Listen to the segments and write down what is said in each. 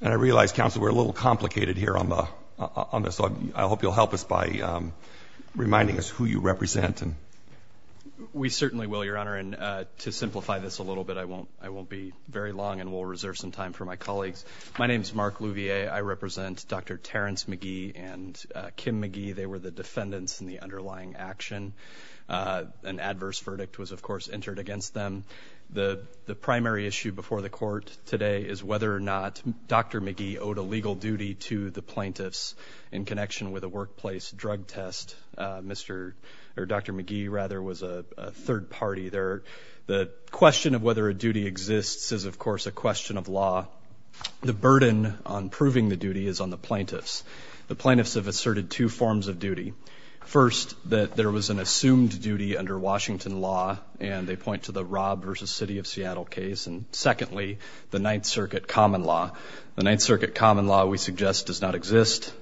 And I realize, counsel, we're a little complicated here on the on this. So I hope you'll help us by reminding us who you represent. We certainly will, Your Honor. And to simplify this a little bit, I won't I won't be very long and we'll reserve some time for my colleagues. My name is Mark Louvier. I represent Dr. Terence McGee and Kim McGee. They were the defendants in the underlying action. An adverse verdict was, of course, entered against them. The defendant did not. Dr. McGee owed a legal duty to the plaintiffs in connection with a workplace drug test. Mr. or Dr. McGee, rather, was a third party there. The question of whether a duty exists is, of course, a question of law. The burden on proving the duty is on the plaintiffs. The plaintiffs have asserted two forms of duty. First, that there was an assumed duty under Washington law, and they point to the Rob versus City of Seattle case. And secondly, the Ninth Circuit common law. The Ninth Circuit common law, we suggest, does not exist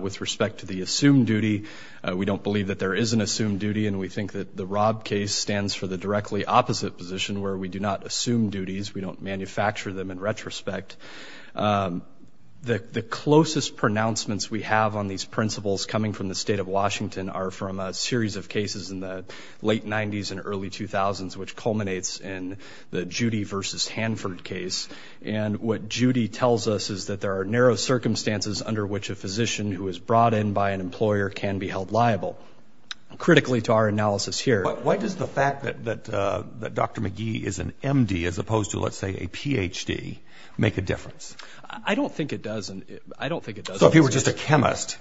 with respect to the assumed duty. We don't believe that there is an assumed duty, and we think that the Rob case stands for the directly opposite position where we do not assume duties. We don't manufacture them in retrospect. The closest pronouncements we have on these principles coming from the state of Washington are from a series of cases in the late 90s and early 2000s, which culminates in the Judy versus Hanford case. And what Judy tells us is that there are narrow circumstances under which a physician who is brought in by an employer can be held liable. Critically to our analysis here But why does the fact that Dr. McGee is an M.D. as opposed to, let's say, a Ph.D. make a difference? I don't think it does. I don't think it does. So if he were just a chemist,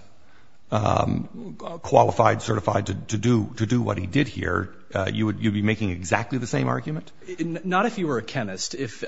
qualified, certified to do what he did here, you would be making exactly the same argument? Not if he were a chemist. If,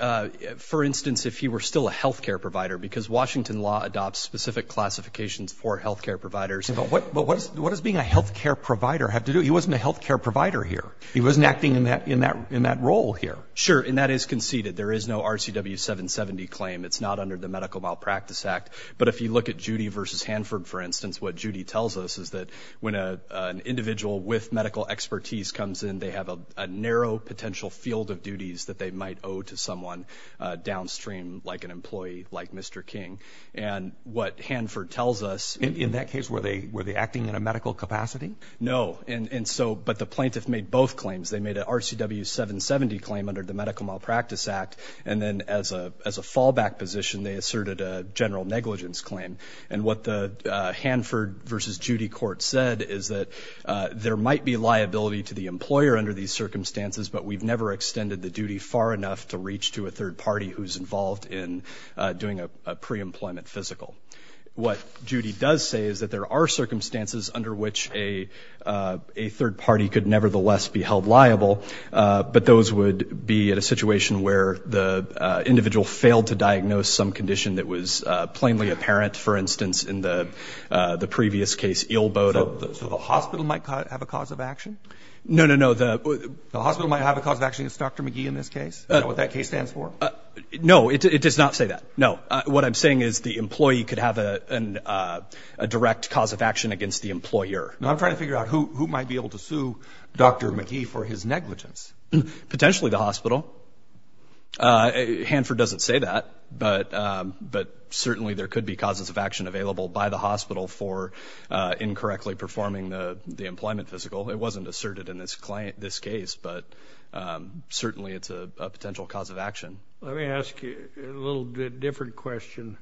for instance, if he were still a health care provider, because Washington law adopts specific classifications for health care providers. But what does being a health care provider have to do? He wasn't a health care provider here. He wasn't acting in that role here. Sure. And that is conceded. There is no RCW 770 claim. It's not under the Medical Malpractice Act. But if you look at Judy v. Hanford, for instance, what Judy tells us is that when an individual with medical expertise comes in, they have a narrow potential field of duties that they might owe to someone downstream, like an employee like Mr. King. And what Hanford tells us In that case, were they were they acting in a medical capacity? No. And so but the plaintiff made both claims. They made an RCW 770 claim under the Medical Malpractice Act. And then as a as a fallback position, they asserted a general negligence claim. And what the Hanford v. Judy court said is that there might be liability to the employer under these circumstances, but we've never extended the duty far enough to reach to a third party who's involved in doing a preemployment physical. What Judy does say is that there are circumstances under which a third party could nevertheless be held liable. But those would be at a situation where the individual failed to diagnose some condition that was plainly apparent, for instance, in the the previous case, Eelboda. So the hospital might have a cause of action? No, no, no. The hospital might have a cause of action against Dr. McGee in this case? Is that what that case stands for? No, it does not say that. No. What I'm saying is the employee could have a direct cause of action against the employer. Now, I'm trying to figure out who might be able to sue Dr. McGee for his negligence. Potentially the hospital. Hanford doesn't say that, but certainly there could be causes of action available by the hospital for incorrectly performing the employment physical. It wasn't asserted in this case, but certainly it's a potential cause of action. Let me ask you a little bit different question.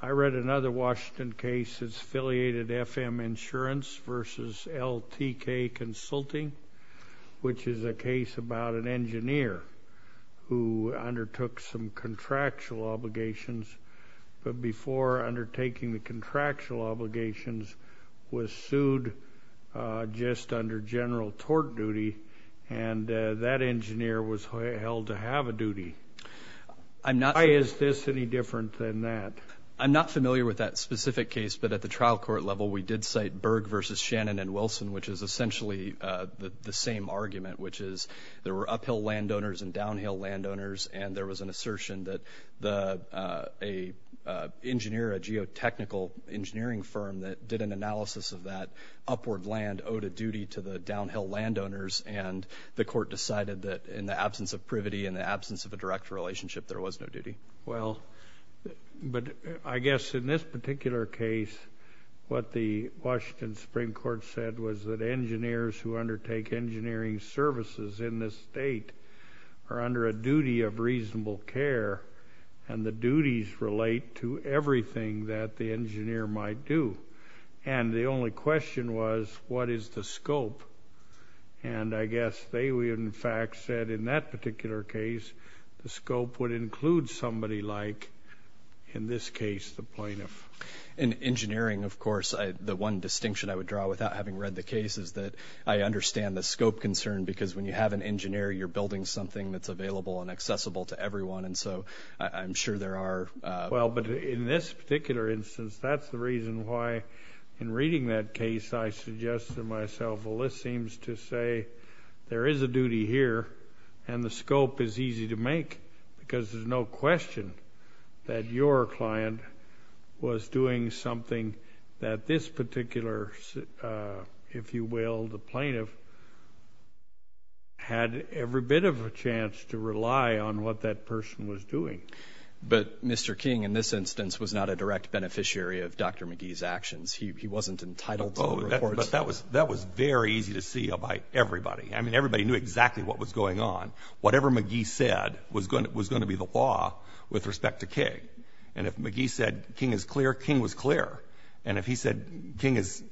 I read another Washington case that's affiliated FM Insurance versus LTK Consulting, which is a case about an engineer who undertook some contractual obligations, but before undertaking the contractual obligations was sued just under general tort duty, and that engineer was held to have a duty. Why is this any different than that? I'm not familiar with that specific case, but at the trial court level we did cite Berg versus Shannon and Wilson, which is essentially the same argument, which is there were uphill landowners and downhill landowners, and there was an assertion that a engineer, a geotechnical engineering firm that did an analysis of that upward land owed a duty to the downhill landowners, and the court decided that in the absence of privity, in the absence of a direct relationship, there was no duty. Well, but I guess in this particular case, what the Washington Supreme Court said was that engineers who undertake engineering services in this state are under a duty of reasonable care, and the duties relate to everything that the engineer might do, and the only question was what is the scope, and I guess they in fact said in that particular case the scope would include somebody like, in this case, the plaintiff. In engineering, of course, the one distinction I would draw without having read the case is that I understand the scope concern, because when you have an engineer, you're building something that's available and accessible to everyone, and so I'm sure there are... Well, but in this particular instance, that's the reason why in reading that case, I suggested to myself, well, this seems to say there is a duty here, and the scope is easy to make, because there's no question that your client was doing something that this particular, if you will, the plaintiff had every bit of a chance to rely on what that person was doing. But Mr. King in this instance was not a direct beneficiary of Dr. McGee's actions. He wasn't entitled to the reports. That was very easy to see by everybody. I mean, everybody knew exactly what was going on. Whatever McGee said was going to be the law with respect to King, and if McGee said King is clear, King was clear, and if he said King is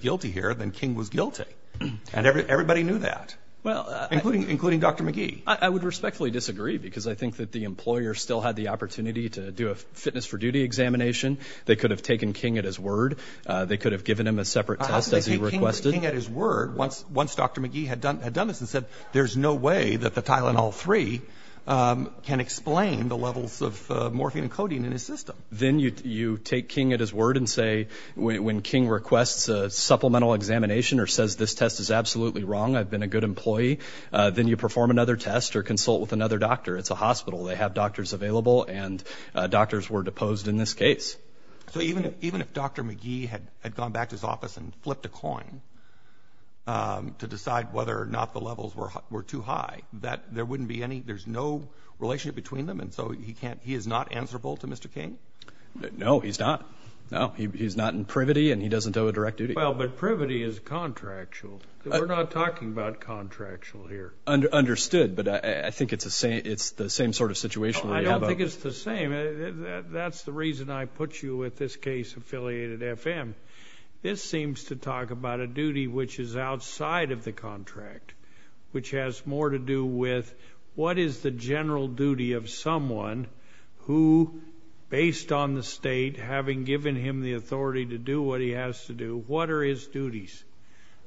guilty here, then King was guilty, and everybody knew that, including Dr. McGee. I would respectfully disagree, because I think that the employer still had the opportunity to do a fitness for duty examination. They could have taken King at his word. They could have given him a separate test as he requested. How could they take King at his word once Dr. McGee had done this and said, there's no way that the Tylenol-3 can explain the levels of morphine and codeine in his system? Then you take King at his word and say, when King requests a supplemental examination or says this test is absolutely wrong, I've been a good employee, then you perform another test or consult with another doctor. It's a hospital. They have doctors available, and doctors were deposed in this case. So even if Dr. McGee had gone back to his office and flipped a coin to decide whether or not the levels were too high, there's no relationship between them, and so he is not answerable to Mr. King? No, he's not. No, he's not in privity, and he doesn't owe a direct duty. Well, but privity is contractual. We're not talking about contractual here. Understood, but I think it's the same sort of situation we have out there. I don't think it's the same. That's the reason I put you with this case affiliated FM. This seems to talk about a duty which is outside of the contract, which has more to do with what is the general duty of someone who, based on the state having given him the authority to do what he has to do, what are his duties?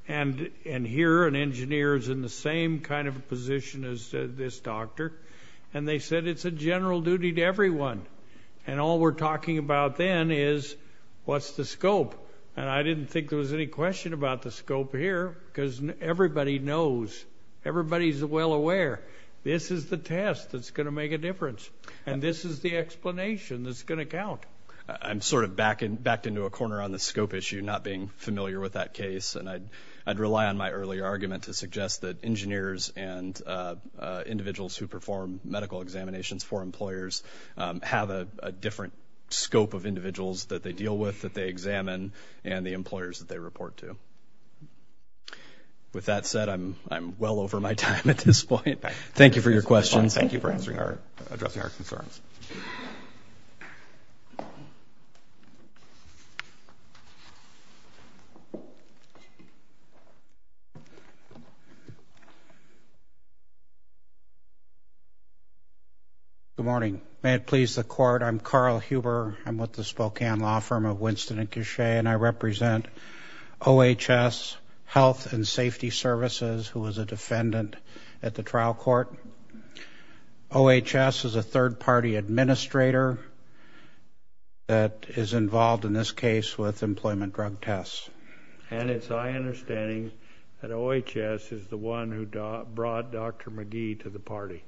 And here, an engineer is in the same kind of position as this doctor, and they said it's a general duty to everyone, and all we're talking about then is what's the scope? And I didn't think there was any question about the scope here, because everybody knows. Everybody's well aware. This is the test that's going to make a difference, and this is the explanation that's going to count. I'm sort of backed into a corner on the scope issue, not being familiar with that case, and I'd rely on my earlier argument to suggest that engineers and individuals who perform medical examinations for employers have a different scope of individuals that they deal with, that they examine, and the employers that they report to. With that said, I'm well over my time at this point. Thank you for your questions. And thank you for addressing our concerns. Good morning. May it please the Court, I'm Carl Huber. I'm with the Spokane law firm of Winston and Cushe, and I represent OHS Health and Safety Services, who is a defendant at the trial court. OHS is a third-party administrator that is involved in this case with employment drug tests. And it's my understanding that OHS is the one who brought Dr. McGee to the party.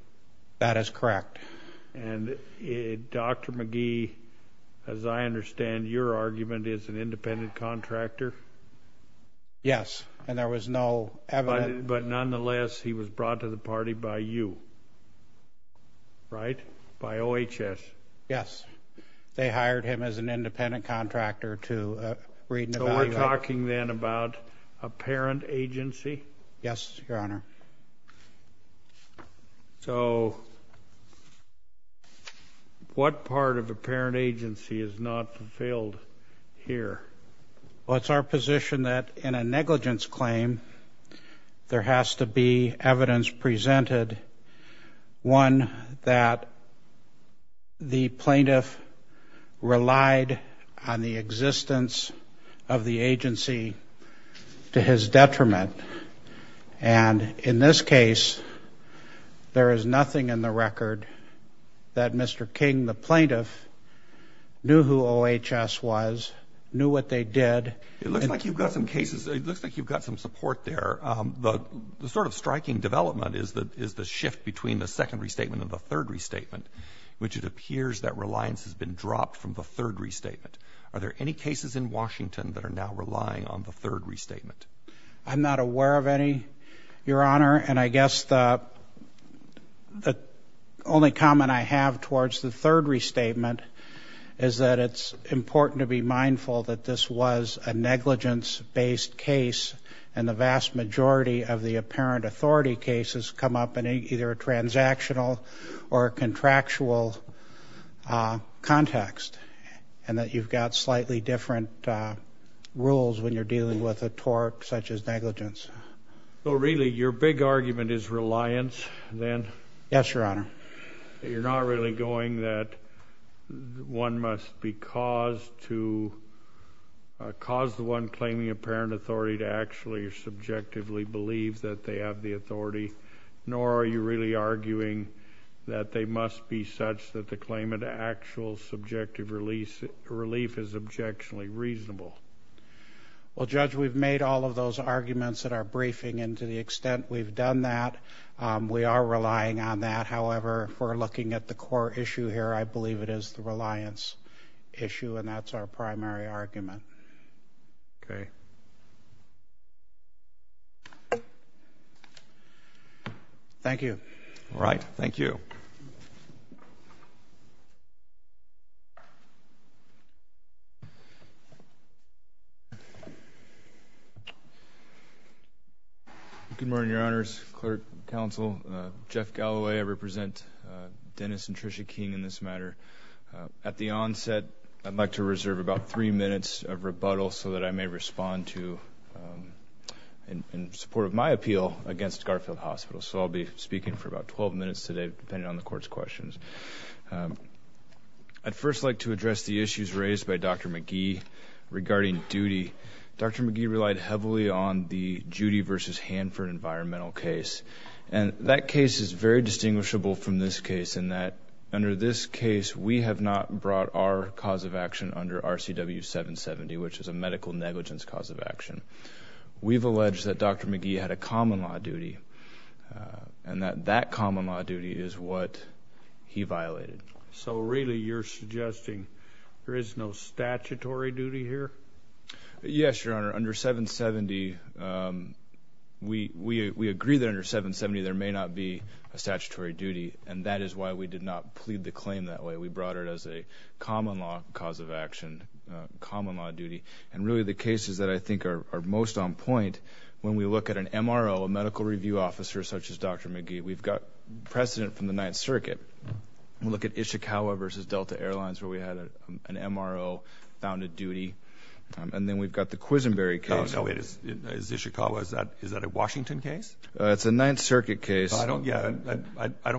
That is correct. And Dr. McGee, as I understand your argument, is an independent contractor? Yes, and there was no evidence. But nonetheless, he was brought to the party by you, right? By OHS? Yes. They hired him as an independent contractor to read and evaluate. So we're talking then about a parent agency? Yes, Your Honor. So what part of a parent agency is not fulfilled here? Well, it's our position that in a negligence claim, there has to be evidence presented, one that the plaintiff relied on the existence of the agency to his detriment. And in this case, there is nothing in the record that Mr. King, the plaintiff, knew who OHS was, knew what they did. It looks like you've got some cases. It looks like you've got some support there. The sort of striking development is the shift between the second restatement and the third restatement, which it appears that reliance has been dropped from the third restatement. Are there any cases in Washington that are now relying on the third restatement? I'm not aware of any, Your Honor. And I guess the only comment I have towards the third restatement is that it's important to be mindful that this was a negligence-based case, and the vast majority of the apparent authority cases come up in either a transactional or a contractual context, and that you've got slightly different rules when you're dealing with a tort such as negligence. So really, your big argument is reliance, then? Yes, Your Honor. You're not really going that one must be caused to cause the one claiming apparent authority to actually or subjectively believe that they have the authority, nor are you really arguing that they must be such that the claimant actual subjective relief is objectionably reasonable? Well, Judge, we've made all of those arguments in our briefing, and to the extent we've done that, we are relying on that. However, if we're looking at the core issue here, I believe it is the reliance issue, and that's our primary argument. Thank you. All right. Thank you. Clerk, Counsel, Jeff Galloway, I represent Dennis and Tricia King in this matter. At the onset, I'd like to reserve about three minutes of rebuttal so that I may respond to in support of my appeal against Garfield Hospital. So I'll be speaking for about twelve minutes today, depending on the Court's questions. I'd first like to address the issues raised by Dr. McGee regarding duty. Dr. McGee relied heavily on the Judy v. Hanford environmental case, and that case is very distinguishable from this case in that under this case, we have not brought our cause of action under RCW 770, which is a medical negligence cause of action. We've alleged that Dr. McGee had a common law duty, and that that common law duty is what he violated. So really you're suggesting there is no statutory duty here? Yes, Your Honor. Under 770, we agree that under 770 there may not be a statutory duty, and that is why we did not plead the claim that way. We brought it as a common law cause of action, common law duty. And really the cases that I think are most on point, when we look at an MRO, a medical review officer such as Dr. McGee, we've got precedent from the Ninth Circuit. We look at Ishikawa v. Delta Airlines where we had an MRO found a and then we've got the Quisenberry case. Oh, no. Is Ishikawa, is that a Washington case? It's a Ninth Circuit case. I don't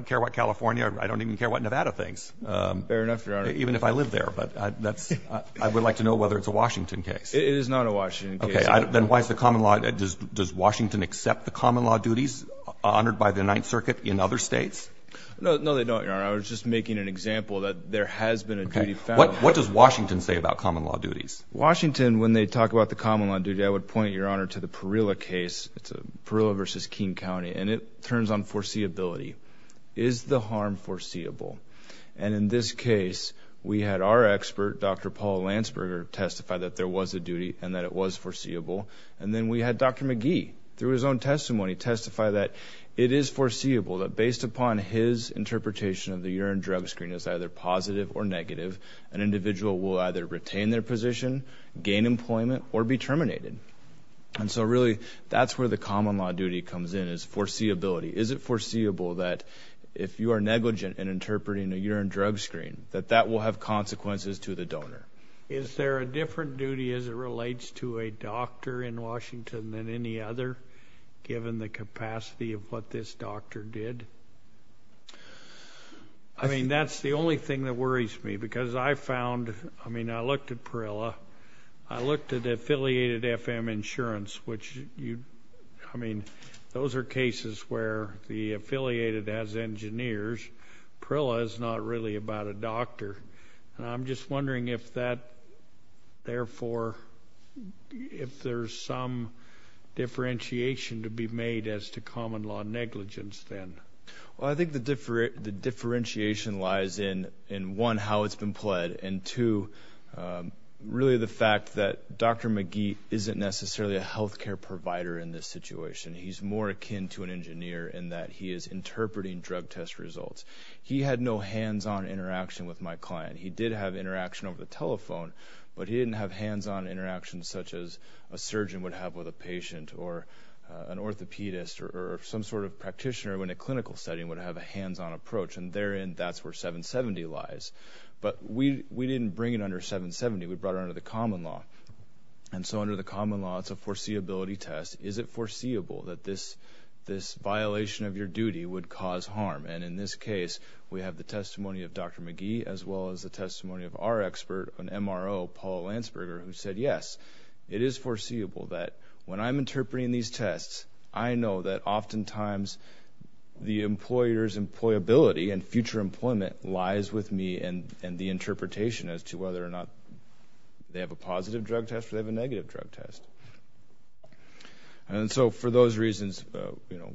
care what California, I don't even care what Nevada thinks. Fair enough, Your Honor. Even if I live there, but that's, I would like to know whether it's a Washington case. It is not a Washington case. Okay, then why is the common law, does Washington accept the common law duties honored by the Ninth Circuit in other states? No, they don't, Your Honor. I was just making an example that there has been a duty found. What does Washington say about common law duties? Washington, when they talk about the common law duty, I would point, Your Honor, to the Parilla case. It's a Parilla v. King County and it turns on foreseeability. Is the harm foreseeable? And in this case, we had our expert, Dr. Paul Landsberger, testify that there was a duty and that it was foreseeable. And then we had Dr. McGee, through his own testimony, testify that it is foreseeable that based upon his interpretation of the urine drug screen as either positive or negative, an individual will either retain their position, gain employment, or be terminated. And so really, that's where the common law duty comes in, is foreseeability. Is it foreseeable that if you are negligent in interpreting a urine drug screen, that that will have consequences to the donor? Is there a different duty as it relates to a doctor in Washington than any other, given the capacity of what this doctor did? I mean, that's the only thing that worries me, because I found, I mean, I looked at Parilla. I looked at affiliated FM insurance, which you, I mean, those are cases where the affiliated has engineers. Parilla is not really about a doctor. And I'm just wondering if that, therefore, if there's some differentiation to be made as to common law negligence then. Well, I think the differentiation lies in, one, how it's been pled, and two, really the fact that Dr. McGee isn't necessarily a healthcare provider in this situation. He's more akin to an engineer in that he is interpreting drug test results. He had no hands-on interaction with my client. He did have interaction over the telephone, but he didn't have hands-on such as a surgeon would have with a patient, or an orthopedist, or some sort of practitioner in a clinical setting would have a hands-on approach. And therein, that's where 770 lies. But we didn't bring it under 770. We brought it under the common law. And so under the common law, it's a foreseeability test. Is it foreseeable that this violation of your duty would cause harm? And in this case, we have the testimony of Dr. McGee, as well as the testimony of our expert, an MRO, Paula Landsberger, who said, yes, it is foreseeable that when I'm interpreting these tests, I know that oftentimes the employer's employability and future employment lies with me and the interpretation as to whether or not they have a positive drug test or they have a negative drug test. And so for those reasons,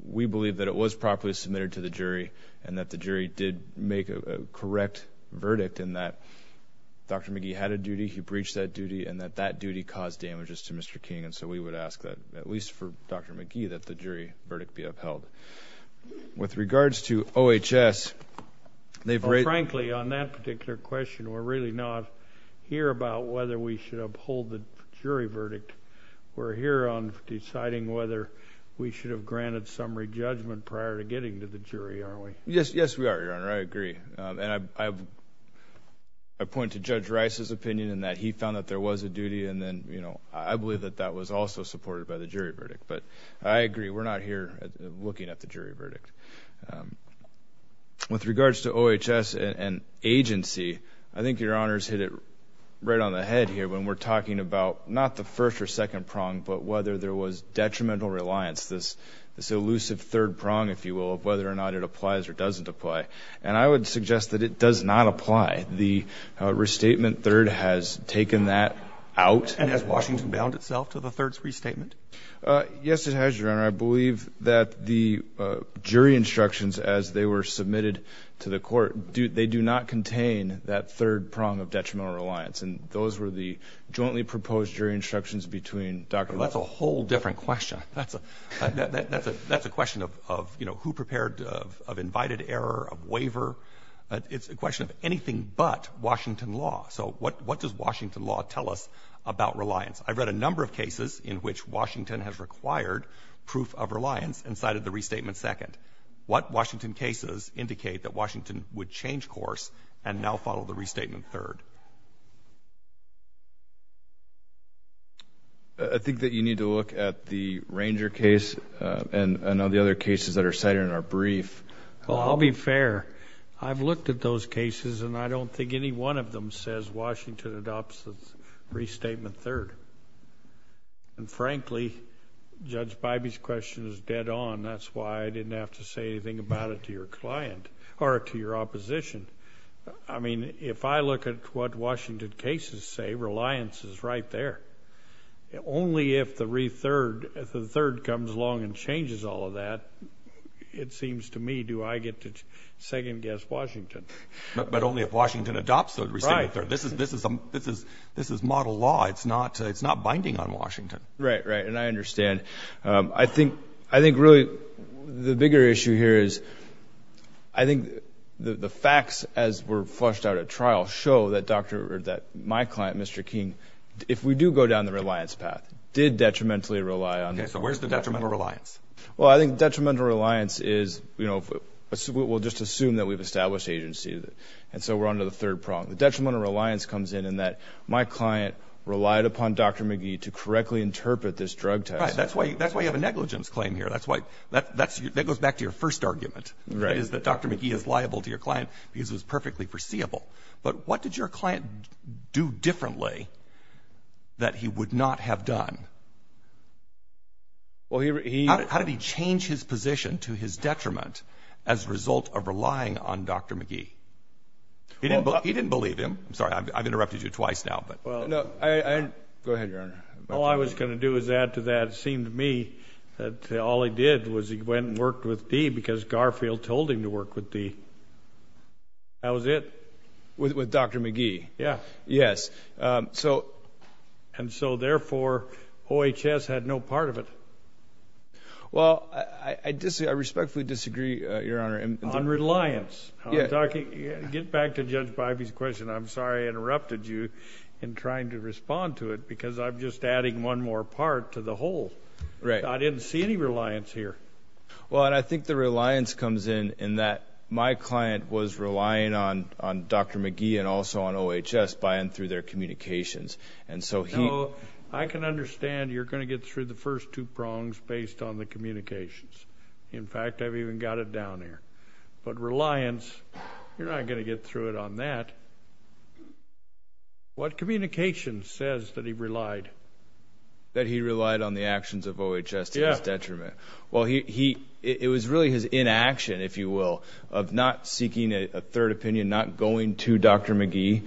we believe that it was properly submitted to the jury and that the jury did make a correct verdict in that Dr. McGee had a duty, he breached that duty, and that that duty caused damages to Mr. King. And so we would ask that, at least for Dr. McGee, that the jury verdict be upheld. With regards to OHS, they've raised— Frankly, on that particular question, we're really not here about whether we should uphold the jury verdict. We're here on deciding whether we should have granted summary judgment prior to getting to the jury, aren't we? Yes, we are, Your Honor. I agree. And I point to Judge Rice's opinion in that he found that there was a duty, and then, you know, I believe that that was also supported by the jury verdict. But I agree, we're not here looking at the jury verdict. With regards to OHS and agency, I think Your Honor's hit it right on the head here when we're talking about not the first or second prong, but whether there was detrimental reliance, this elusive third prong, if you will, of whether or not it applies or doesn't apply. And I would suggest that it does not apply. The restatement third has taken that out. And has Washington bound itself to the third restatement? Yes, it has, Your Honor. I believe that the jury instructions, as they were submitted to the Court, they do not contain that third prong of detrimental reliance. That's a whole different question. That's a question of, you know, who prepared, of invited error, of waiver. It's a question of anything but Washington law. So what does Washington law tell us about reliance? I've read a number of cases in which Washington has required proof of reliance and cited the restatement second. What Washington cases indicate that Washington would change course and now follow the restatement third? I think that you need to look at the Ranger case and all the other cases that are cited in our brief. Well, I'll be fair. I've looked at those cases and I don't think any one of them says Washington adopts the restatement third. And frankly, Judge Bybee's question is dead on. That's why I didn't have to say anything about it to your client or to your opposition. I mean, if I look at what Washington cases say, reliance is right there. Only if the rethird, if the third comes along and changes all of that, it seems to me, do I get to second-guess Washington. But only if Washington adopts the restatement third. This is model law. It's not binding on Washington. Right, right. And I understand. I think really the bigger issue here is I think the facts as we're flushed out at trial show that my client, Mr. King, if we do go down the reliance path, did detrimentally rely on... Okay, so where's the detrimental reliance? Well, I think detrimental reliance is, we'll just assume that we've established agency and so we're on to the third prong. The detrimental reliance comes in in that my client relied upon Dr. McGee to correctly interpret this drug test. That's why you have a negligence claim here. That goes back to your first argument. That Dr. McGee is liable to your client because it was perfectly foreseeable. But what did your client do differently that he would not have done? How did he change his position to his detriment as a result of relying on Dr. McGee? He didn't believe him. I'm sorry, I've interrupted you twice now, but... Go ahead, Your Honor. All I was going to do is add to that. It seemed to me that all he did was he went and worked with Dee because Garfield told him to work with Dee. That was it. With Dr. McGee. Yeah. Yes. And so, therefore, OHS had no part of it. Well, I respectfully disagree, Your Honor. On reliance. Get back to Judge Bivey's question. I'm sorry I interrupted you in trying to respond to it because I'm just adding one more part to the whole. I didn't see any reliance here. Well, and I think the reliance comes in in that my client was relying on Dr. McGee and also on OHS by and through their communications. And so he... No, I can understand you're going to get through the first two prongs based on the communications. In fact, I've even got it down here. But reliance, you're not going to get through it on that. What communications says that he relied? That he relied on the actions of OHS to his detriment? Well, it was really his inaction, if you will, of not seeking a third opinion, not going to Dr. McGee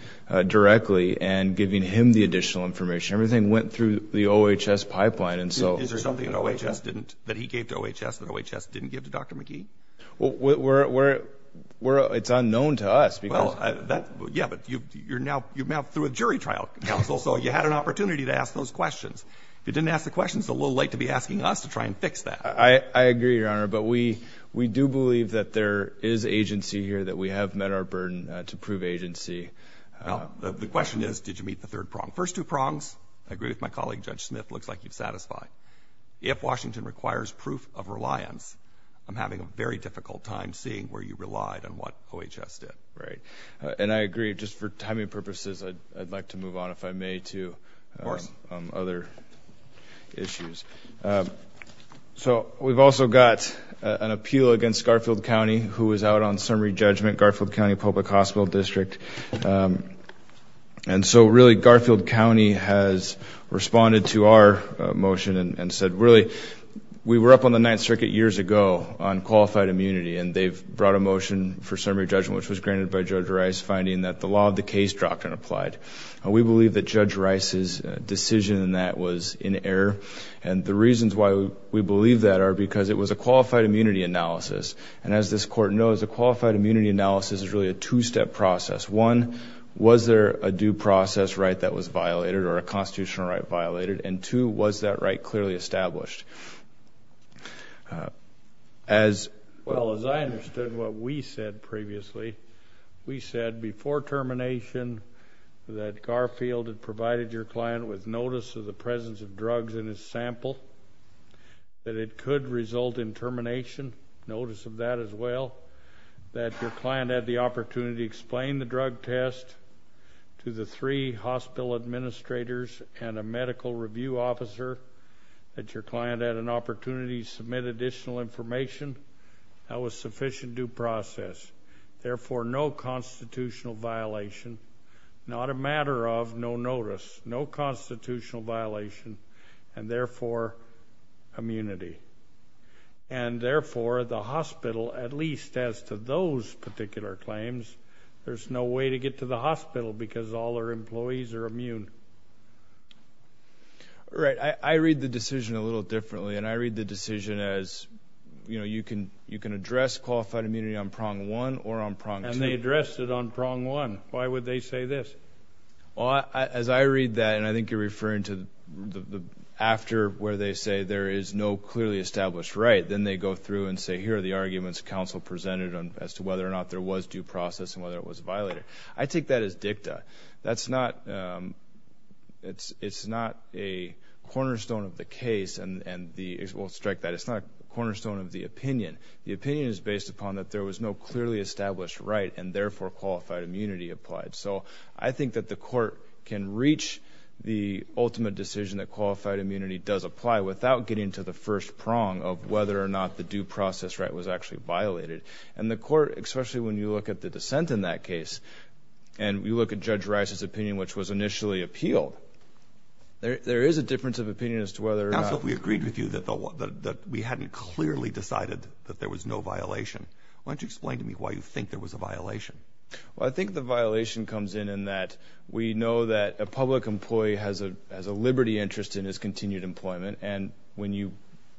directly and giving him the additional information. Everything went through the OHS pipeline. And so... Is there something that he gave to OHS that OHS didn't give to Dr. McGee? It's unknown to us because... Well, yeah, but you're now through a jury trial. So you had an opportunity to ask those questions. If you didn't ask the questions, it's a little late to be asking us to try and fix that. I agree, Your Honor. But we do believe that there is agency here, that we have met our burden to prove agency. The question is, did you meet the third prong? First two prongs, I agree with my colleague, Judge Smith, looks like you've satisfied. If Washington requires proof of reliance, I'm having a very difficult time seeing where you relied on what OHS did. Right. And I agree. Just for timing purposes, I'd like to move on, if I may, to... Of course. ...other issues. So we've also got an appeal against Garfield County, who was out on summary judgment, Garfield County Public Hospital District. And so really, Garfield County has responded to our motion and said, really, we were up on the Ninth Circuit years ago on qualified immunity, and they've brought a motion for summary judgment, which was granted by Judge Rice, finding that the law of the case doctrine applied. We believe that Judge Rice's decision in that was in error. And the reasons why we believe that are because it was a qualified immunity analysis. And as this court knows, a qualified immunity analysis is really a two-step process. One, was there a due process right that was violated or a constitutional right violated? And two, was that right clearly established? As... ...that Garfield had provided your client with notice of the presence of drugs in his sample, that it could result in termination, notice of that as well, that your client had the opportunity to explain the drug test to the three hospital administrators and a medical review officer, that your client had an opportunity to submit additional information, that was sufficient due process. Therefore, no constitutional violation, not a matter of no notice, no constitutional violation, and therefore, immunity. And therefore, the hospital, at least as to those particular claims, there's no way to get to the hospital because all our employees are immune. Right. I read the decision a little differently. And I read the decision as, you know, you can address qualified immunity on prong one or on prong two. And they addressed it on prong one. Why would they say this? Well, as I read that, and I think you're referring to after where they say there is no clearly established right, then they go through and say here are the arguments counsel presented on as to whether or not there was due process and whether it was violated. I take that as dicta. That's not...it's not a cornerstone of the case and we'll strike that. It's not a cornerstone of the opinion. The opinion is based upon that there was no clearly established right and therefore, qualified immunity applied. So I think that the court can reach the ultimate decision that qualified immunity does apply without getting to the first prong of whether or not the due process right was actually violated. And the court, especially when you look at the dissent in that case, and you look at Judge Rice's opinion, which was initially appealed, there is a difference of opinion as to whether or not... So if we agreed with you that we hadn't clearly decided that there was no violation, why don't you explain to me why you think there was a violation? Well, I think the violation comes in in that we know that a public employee has a liberty interest in his continued employment and when you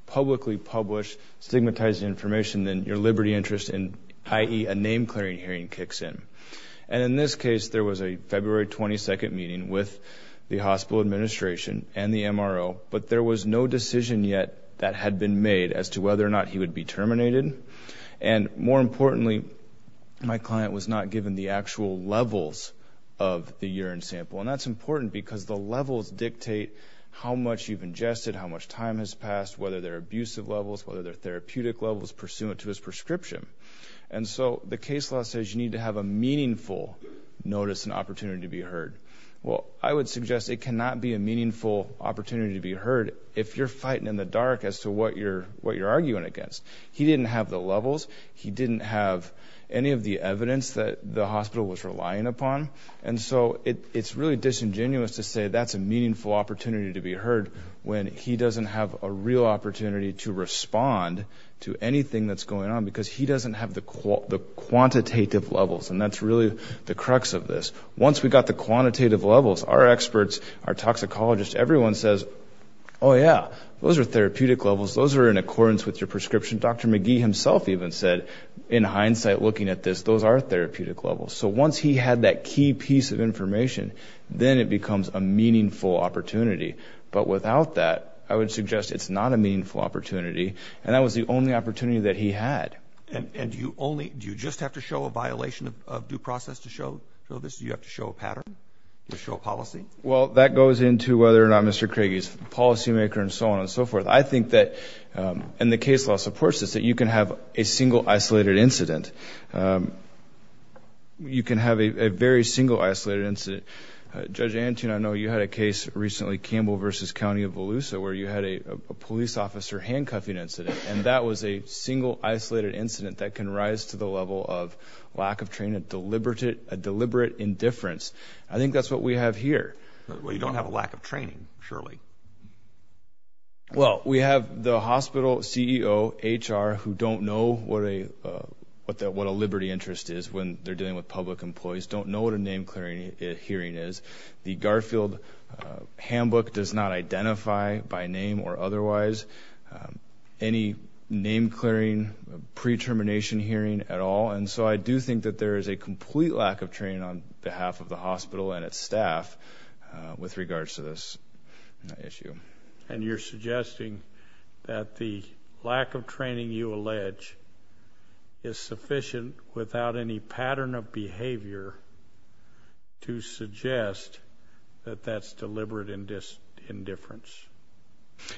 publicly publish stigmatizing information, then your liberty interest in, i.e., a name-clearing hearing kicks in. And in this case, there was a February 22nd meeting with the hospital administration and the MRO, but there was no decision yet that had been made as to whether or not he would be terminated. And more importantly, my client was not given the actual levels of the urine sample. And that's important because the levels dictate how much you've ingested, how much time has passed, whether they're abusive levels, whether they're therapeutic levels pursuant to his prescription. And so the case law says you need to have a meaningful notice and opportunity to be heard. Well, I would suggest it cannot be a meaningful opportunity to be heard if you're fighting in the dark as to what you're arguing against. He didn't have the levels. He didn't have any of the evidence that the hospital was relying upon. And so it's really disingenuous to say that's a meaningful opportunity to be heard when he doesn't have a real opportunity to respond to anything that's going on because he doesn't have the quantitative levels and that's really the crux of this. Once we got the quantitative levels, our experts, our toxicologists, everyone says, oh yeah, those are therapeutic levels. Those are in accordance with your prescription. Dr. McGee himself even said in hindsight, looking at this, those are therapeutic levels. So once he had that key piece of information, then it becomes a meaningful opportunity. But without that, I would suggest it's not a meaningful opportunity. And that was the only opportunity that he had. And do you only, do you just have to show a violation of due process to show this? Do you have to show a pattern? Do you have to show a policy? Well, that goes into whether or not Mr. Craig is a policymaker and so on and so forth. I think that, and the case law supports this, that you can have a single isolated incident. You can have a very single isolated incident. Judge Antune, I know you had a case recently, Campbell versus County of Volusia, where you had a police officer handcuffing incident. And that was a single isolated incident that can rise to the level of lack of training, a deliberate indifference. I think that's what we have here. Well, you don't have a lack of training, surely. Well, we have the hospital CEO, HR, who don't know what a liberty interest is when they're dealing with public employees, don't know what a name clearing hearing is. The Garfield handbook does not identify by name or otherwise any name clearing, pre-termination hearing at all. And so, I do think that there is a complete lack of training on behalf of the hospital and its staff with regards to this issue. And you're suggesting that the lack of training you allege is sufficient without any pattern of behavior to suggest that that's deliberate indifference?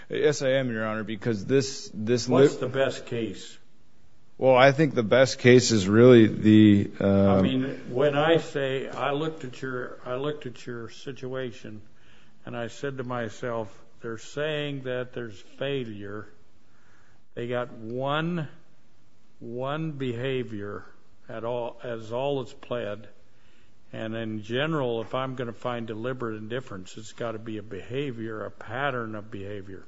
Yes, I am, Your Honor, because this... What's the best case? Well, I think the best case is really the... I mean, when I say, I looked at your situation and I said to myself, they're saying that there's failure. They got one behavior as all is pled. And in general, if I'm going to find deliberate indifference, it's got to be a behavior, a pattern of behavior.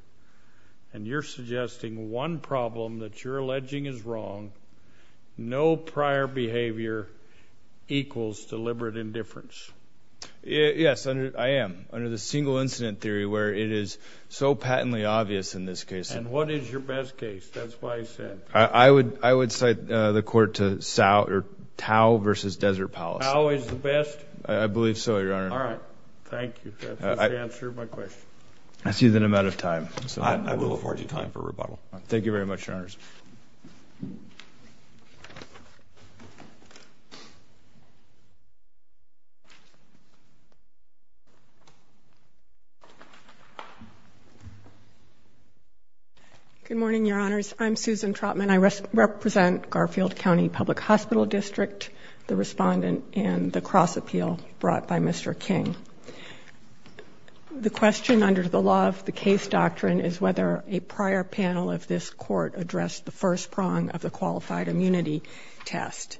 And you're suggesting one problem that you're alleging is wrong, no prior behavior equals deliberate indifference. Yes, I am. Under the single incident theory where it is so patently obvious in this case. And what is your best case? That's why I said. I would cite the court to Tau versus Desert Palace. Tau is the best? I believe so, Your Honor. All right. Thank you. That answers my question. I see that I'm out of time. I will afford you time for rebuttal. Thank you very much, Your Honors. Good morning, Your Honors. I'm Susan Trotman. I represent Garfield County Public Hospital District, the respondent and the cross appeal brought by Mr. King. The question under the law of the case doctrine is whether a prior panel of this court addressed the first prong of the qualified immunity test.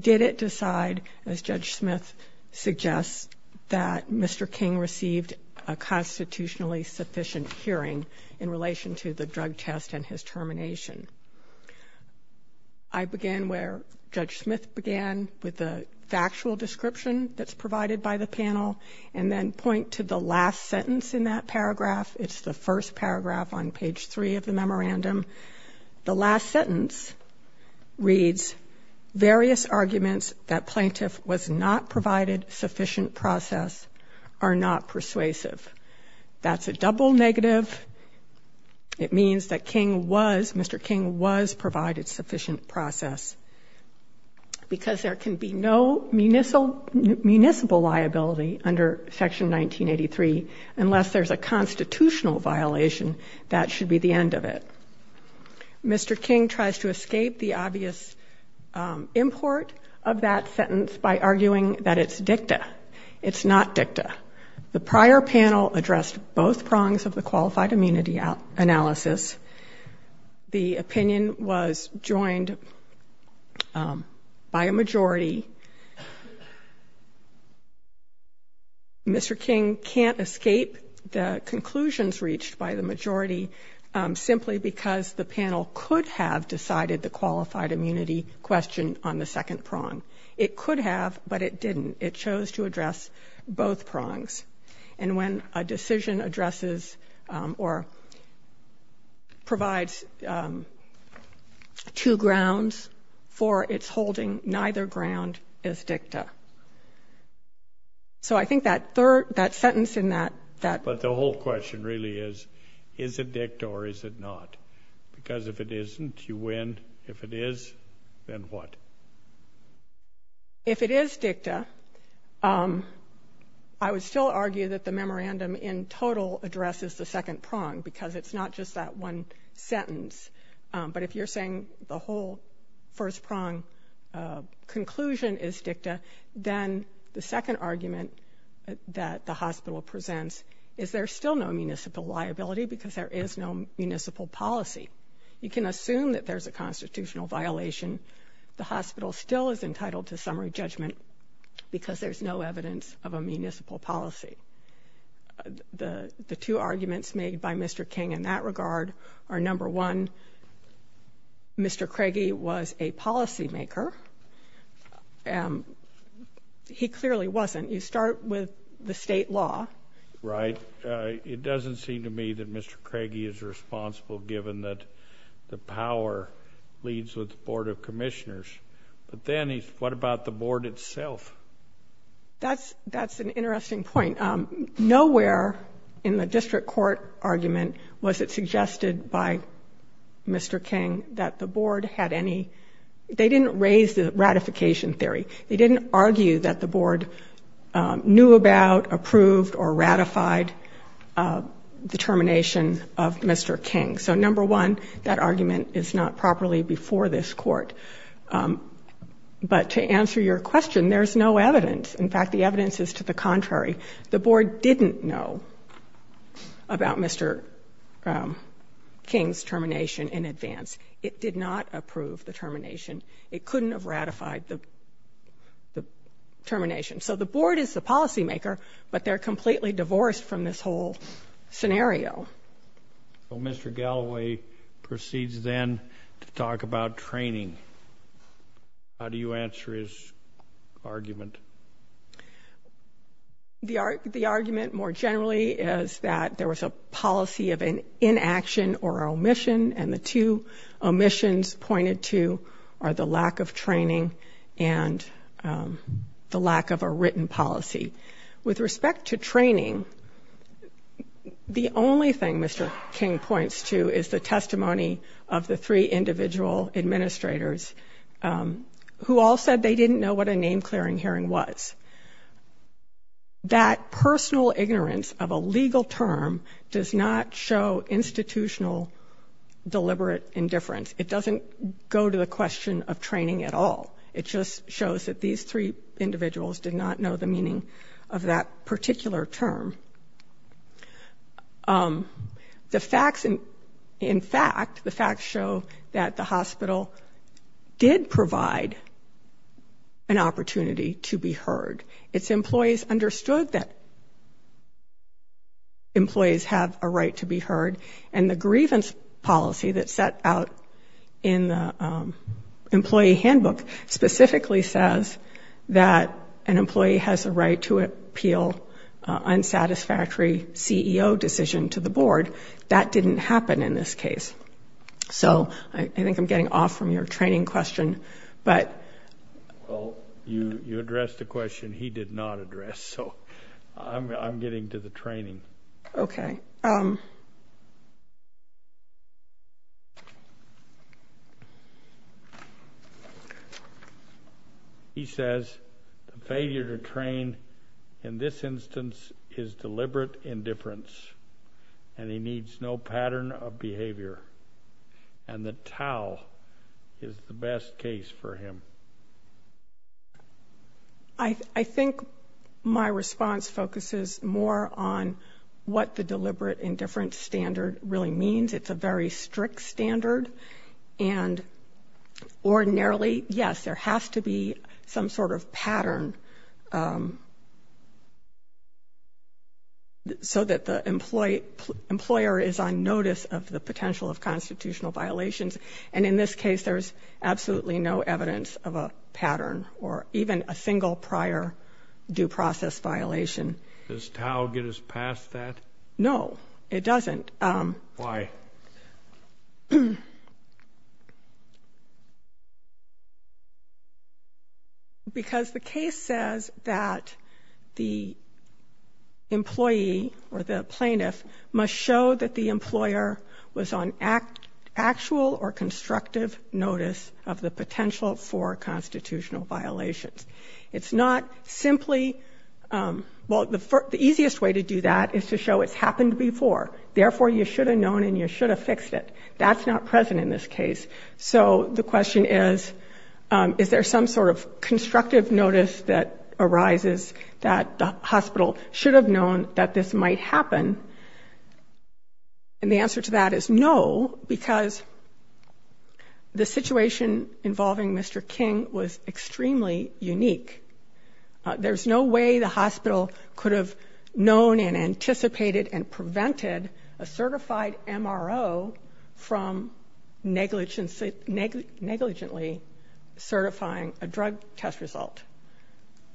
Did it decide, as Judge Smith suggests, that Mr. King received a constitutionally sufficient hearing in relation to the drug test and his termination? I began where Judge Smith began with the factual description that's provided by the panel, and then point to the last sentence in that paragraph. It's the first paragraph on page three of the memorandum. The last sentence reads, various arguments that plaintiff was not provided sufficient process are not persuasive. That's a double negative. It means that Mr. King was provided sufficient process, because there can be no municipal liability under section 1983 unless there's a constitutional violation. That should be the end of it. Mr. King tries to escape the obvious import of that sentence by arguing that it's dicta. It's not dicta. The prior panel addressed both prongs of the qualified immunity analysis. The opinion was joined by a majority. Mr. King can't escape the conclusions reached by the majority, simply because the panel could have decided the qualified immunity question on the second prong. It could have, but it didn't. It chose to address both prongs. And when a decision addresses or provides two grounds for its holding, neither ground is dicta. So I think that third, that sentence in that. But the whole question really is, is it dicta or is it not? Because if it isn't, you win. If it is, then what? If it is dicta, I would still argue that the memorandum in total addresses the second prong, because it's not just that one sentence. But if you're saying the whole first prong conclusion is dicta, then the second argument that the hospital presents is there's still no municipal liability because there is no municipal policy. You can assume that there's a constitutional violation. The hospital still is entitled to summary judgment because there's no evidence of a municipal policy. The two arguments made by Mr. King in that regard are, number one, Mr. Craigie was a policymaker. He clearly wasn't. You start with the state law. JUSTICE SCALIA. Right. It doesn't seem to me that Mr. Craigie is responsible, given that the power leads with the Board of Commissioners. But then he's, what about the Board itself? CHIEF JUSTICE ROBERTS. That's an interesting point. Nowhere in the district court argument was it suggested by Mr. King that the Board had any – they didn't raise the ratification theory. They didn't argue that the Board knew about, approved, or ratified the termination of Mr. King. So, number one, that argument is not properly before this Court. But to answer your question, there's no evidence. In fact, the evidence is to the contrary. The Board didn't know about Mr. King's termination in advance. It did not approve the termination. It couldn't have ratified the termination. So the Board is the policymaker, but they're completely divorced from this whole scenario. JUSTICE ROBERTS. Well, Mr. Galloway proceeds then to talk about training. How do you answer his argument? CHIEF JUSTICE ROBERTS. The argument, more generally, is that there was a policy of an inaction or omission, and the two omissions pointed to are the lack of training and the lack of a written policy. With respect to training, the only thing Mr. King points to is the testimony of the three individual administrators, who all said they didn't know what a name-clearing hearing was. That personal ignorance of a legal term does not show institutional deliberate indifference. It doesn't go to the question of training at all. It just shows that these three individuals did not know the meaning of that particular term. In fact, the facts show that the hospital did provide an opportunity to be heard. Its employees understood that employees have a right to be heard, and the grievance policy that's set out in the employee handbook specifically says that an employee has a right to appeal unsatisfactory. CEO decision to the board, that didn't happen in this case. So I think I'm getting off from your training question, but... CHIEF JUSTICE ROBERTS Well, you addressed a question he did not address, so I'm getting to the training. CHIEF JUSTICE ROBERTS Okay. CHIEF JUSTICE ROBERTS He says, the failure to train in this instance is deliberate indifference, and he needs no pattern of behavior, and the TAO is the best case for him. What the deliberate indifference standard really means, it's a very strict standard, and ordinarily, yes, there has to be some sort of pattern so that the employer is on notice of the potential of constitutional violations. And in this case, there's absolutely no evidence of a pattern or even a single prior due process violation. Does TAO get us past that? CHIEF JUSTICE ROBERTS CHIEF JUSTICE ROBERTS Why? CHIEF JUSTICE ROBERTS Because the case says that the employee or the plaintiff must show that the employer was on actual or constructive notice of the potential for constitutional violations. It's not simply, well, the easiest way to do that is to show it's happened before. Therefore, you should have known and you should have fixed it. That's not present in this case. So the question is, is there some sort of constructive notice that arises that the hospital should have known that this might happen? And the answer to that is no, because the situation involving Mr. King was extremely unique. There's no way the hospital could have known and anticipated and prevented a certified MRO from negligently certifying a drug test result.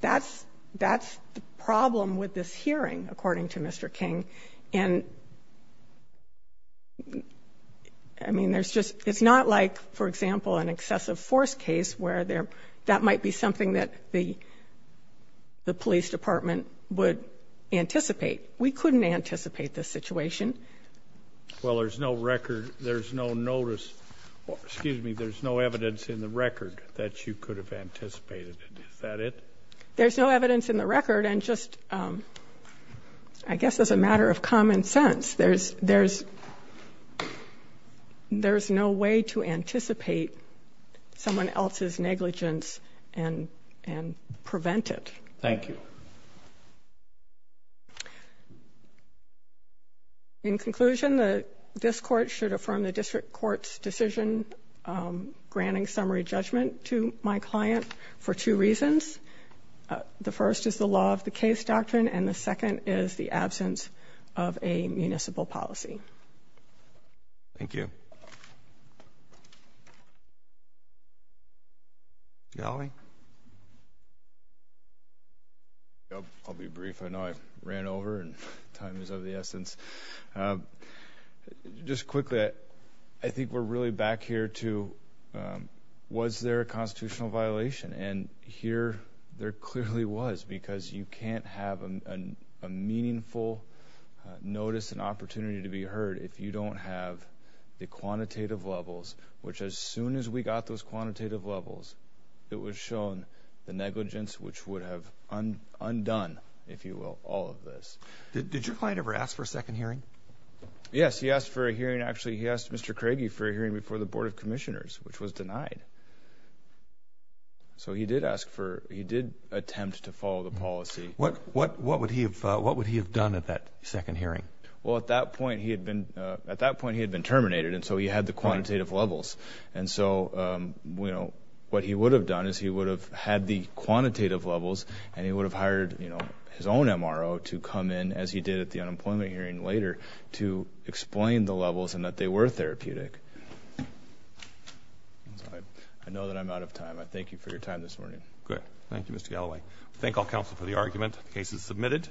That's the problem with this hearing, according to Mr. King. And I mean, there's just, it's not like, for example, an excessive force case where that might be something that the police department would anticipate. We couldn't anticipate this situation. CHIEF JUSTICE ROBERTS Well, there's no record, there's no notice, excuse me, there's no evidence in the record that you could have anticipated it. Is that it? CHIEF JUSTICE ROBERTS There's no evidence in the record. And just, I guess, as a matter of common sense, there's no way to anticipate someone else's negligence and prevent it. CHIEF JUSTICE ROBERTS CHIEF JUSTICE ROBERTS In conclusion, this Court should affirm the district court's decision granting summary judgment to my client for two reasons. The first is the law of the case doctrine, and the second is the absence of a municipal policy. CHIEF JUSTICE ROBERTS CHIEF JUSTICE ROBERTS Galloway? MR. GALLOWAY I'll be brief. I know I ran over and time is of the essence. Just quickly, I think we're really back here to, was there a constitutional violation? And here there clearly was, because you can't have a meaningful notice and opportunity to be heard if you don't have the quantitative levels, which as soon as we got those quantitative levels, it was shown the negligence, which would have undone, if you will, all of this. CHIEF JUSTICE ROBERTS Did your client ever ask for a second hearing? MR. GALLOWAY Yes, he asked for a hearing. Actually, he asked Mr. Craigie for a hearing before the Board of Commissioners, which was denied. CHIEF JUSTICE ROBERTS So he did ask for, he did attempt to follow the policy. MR. GALLOWAY What would he have done at that second hearing? CHIEF JUSTICE ROBERTS Well, at that point, he had been terminated, and so he had the quantitative levels. And so what he would have done is he would have had the quantitative levels and he would have hired his own MRO to come in, as he did at the unemployment hearing later, to explain the levels and that they were therapeutic. MR. GALLOWAY I know that I'm out of time. I thank you for your time this morning. CHIEF JUSTICE ROBERTS Good. Thank you, Mr. Galloway. I thank all counsel for the argument. The case is submitted.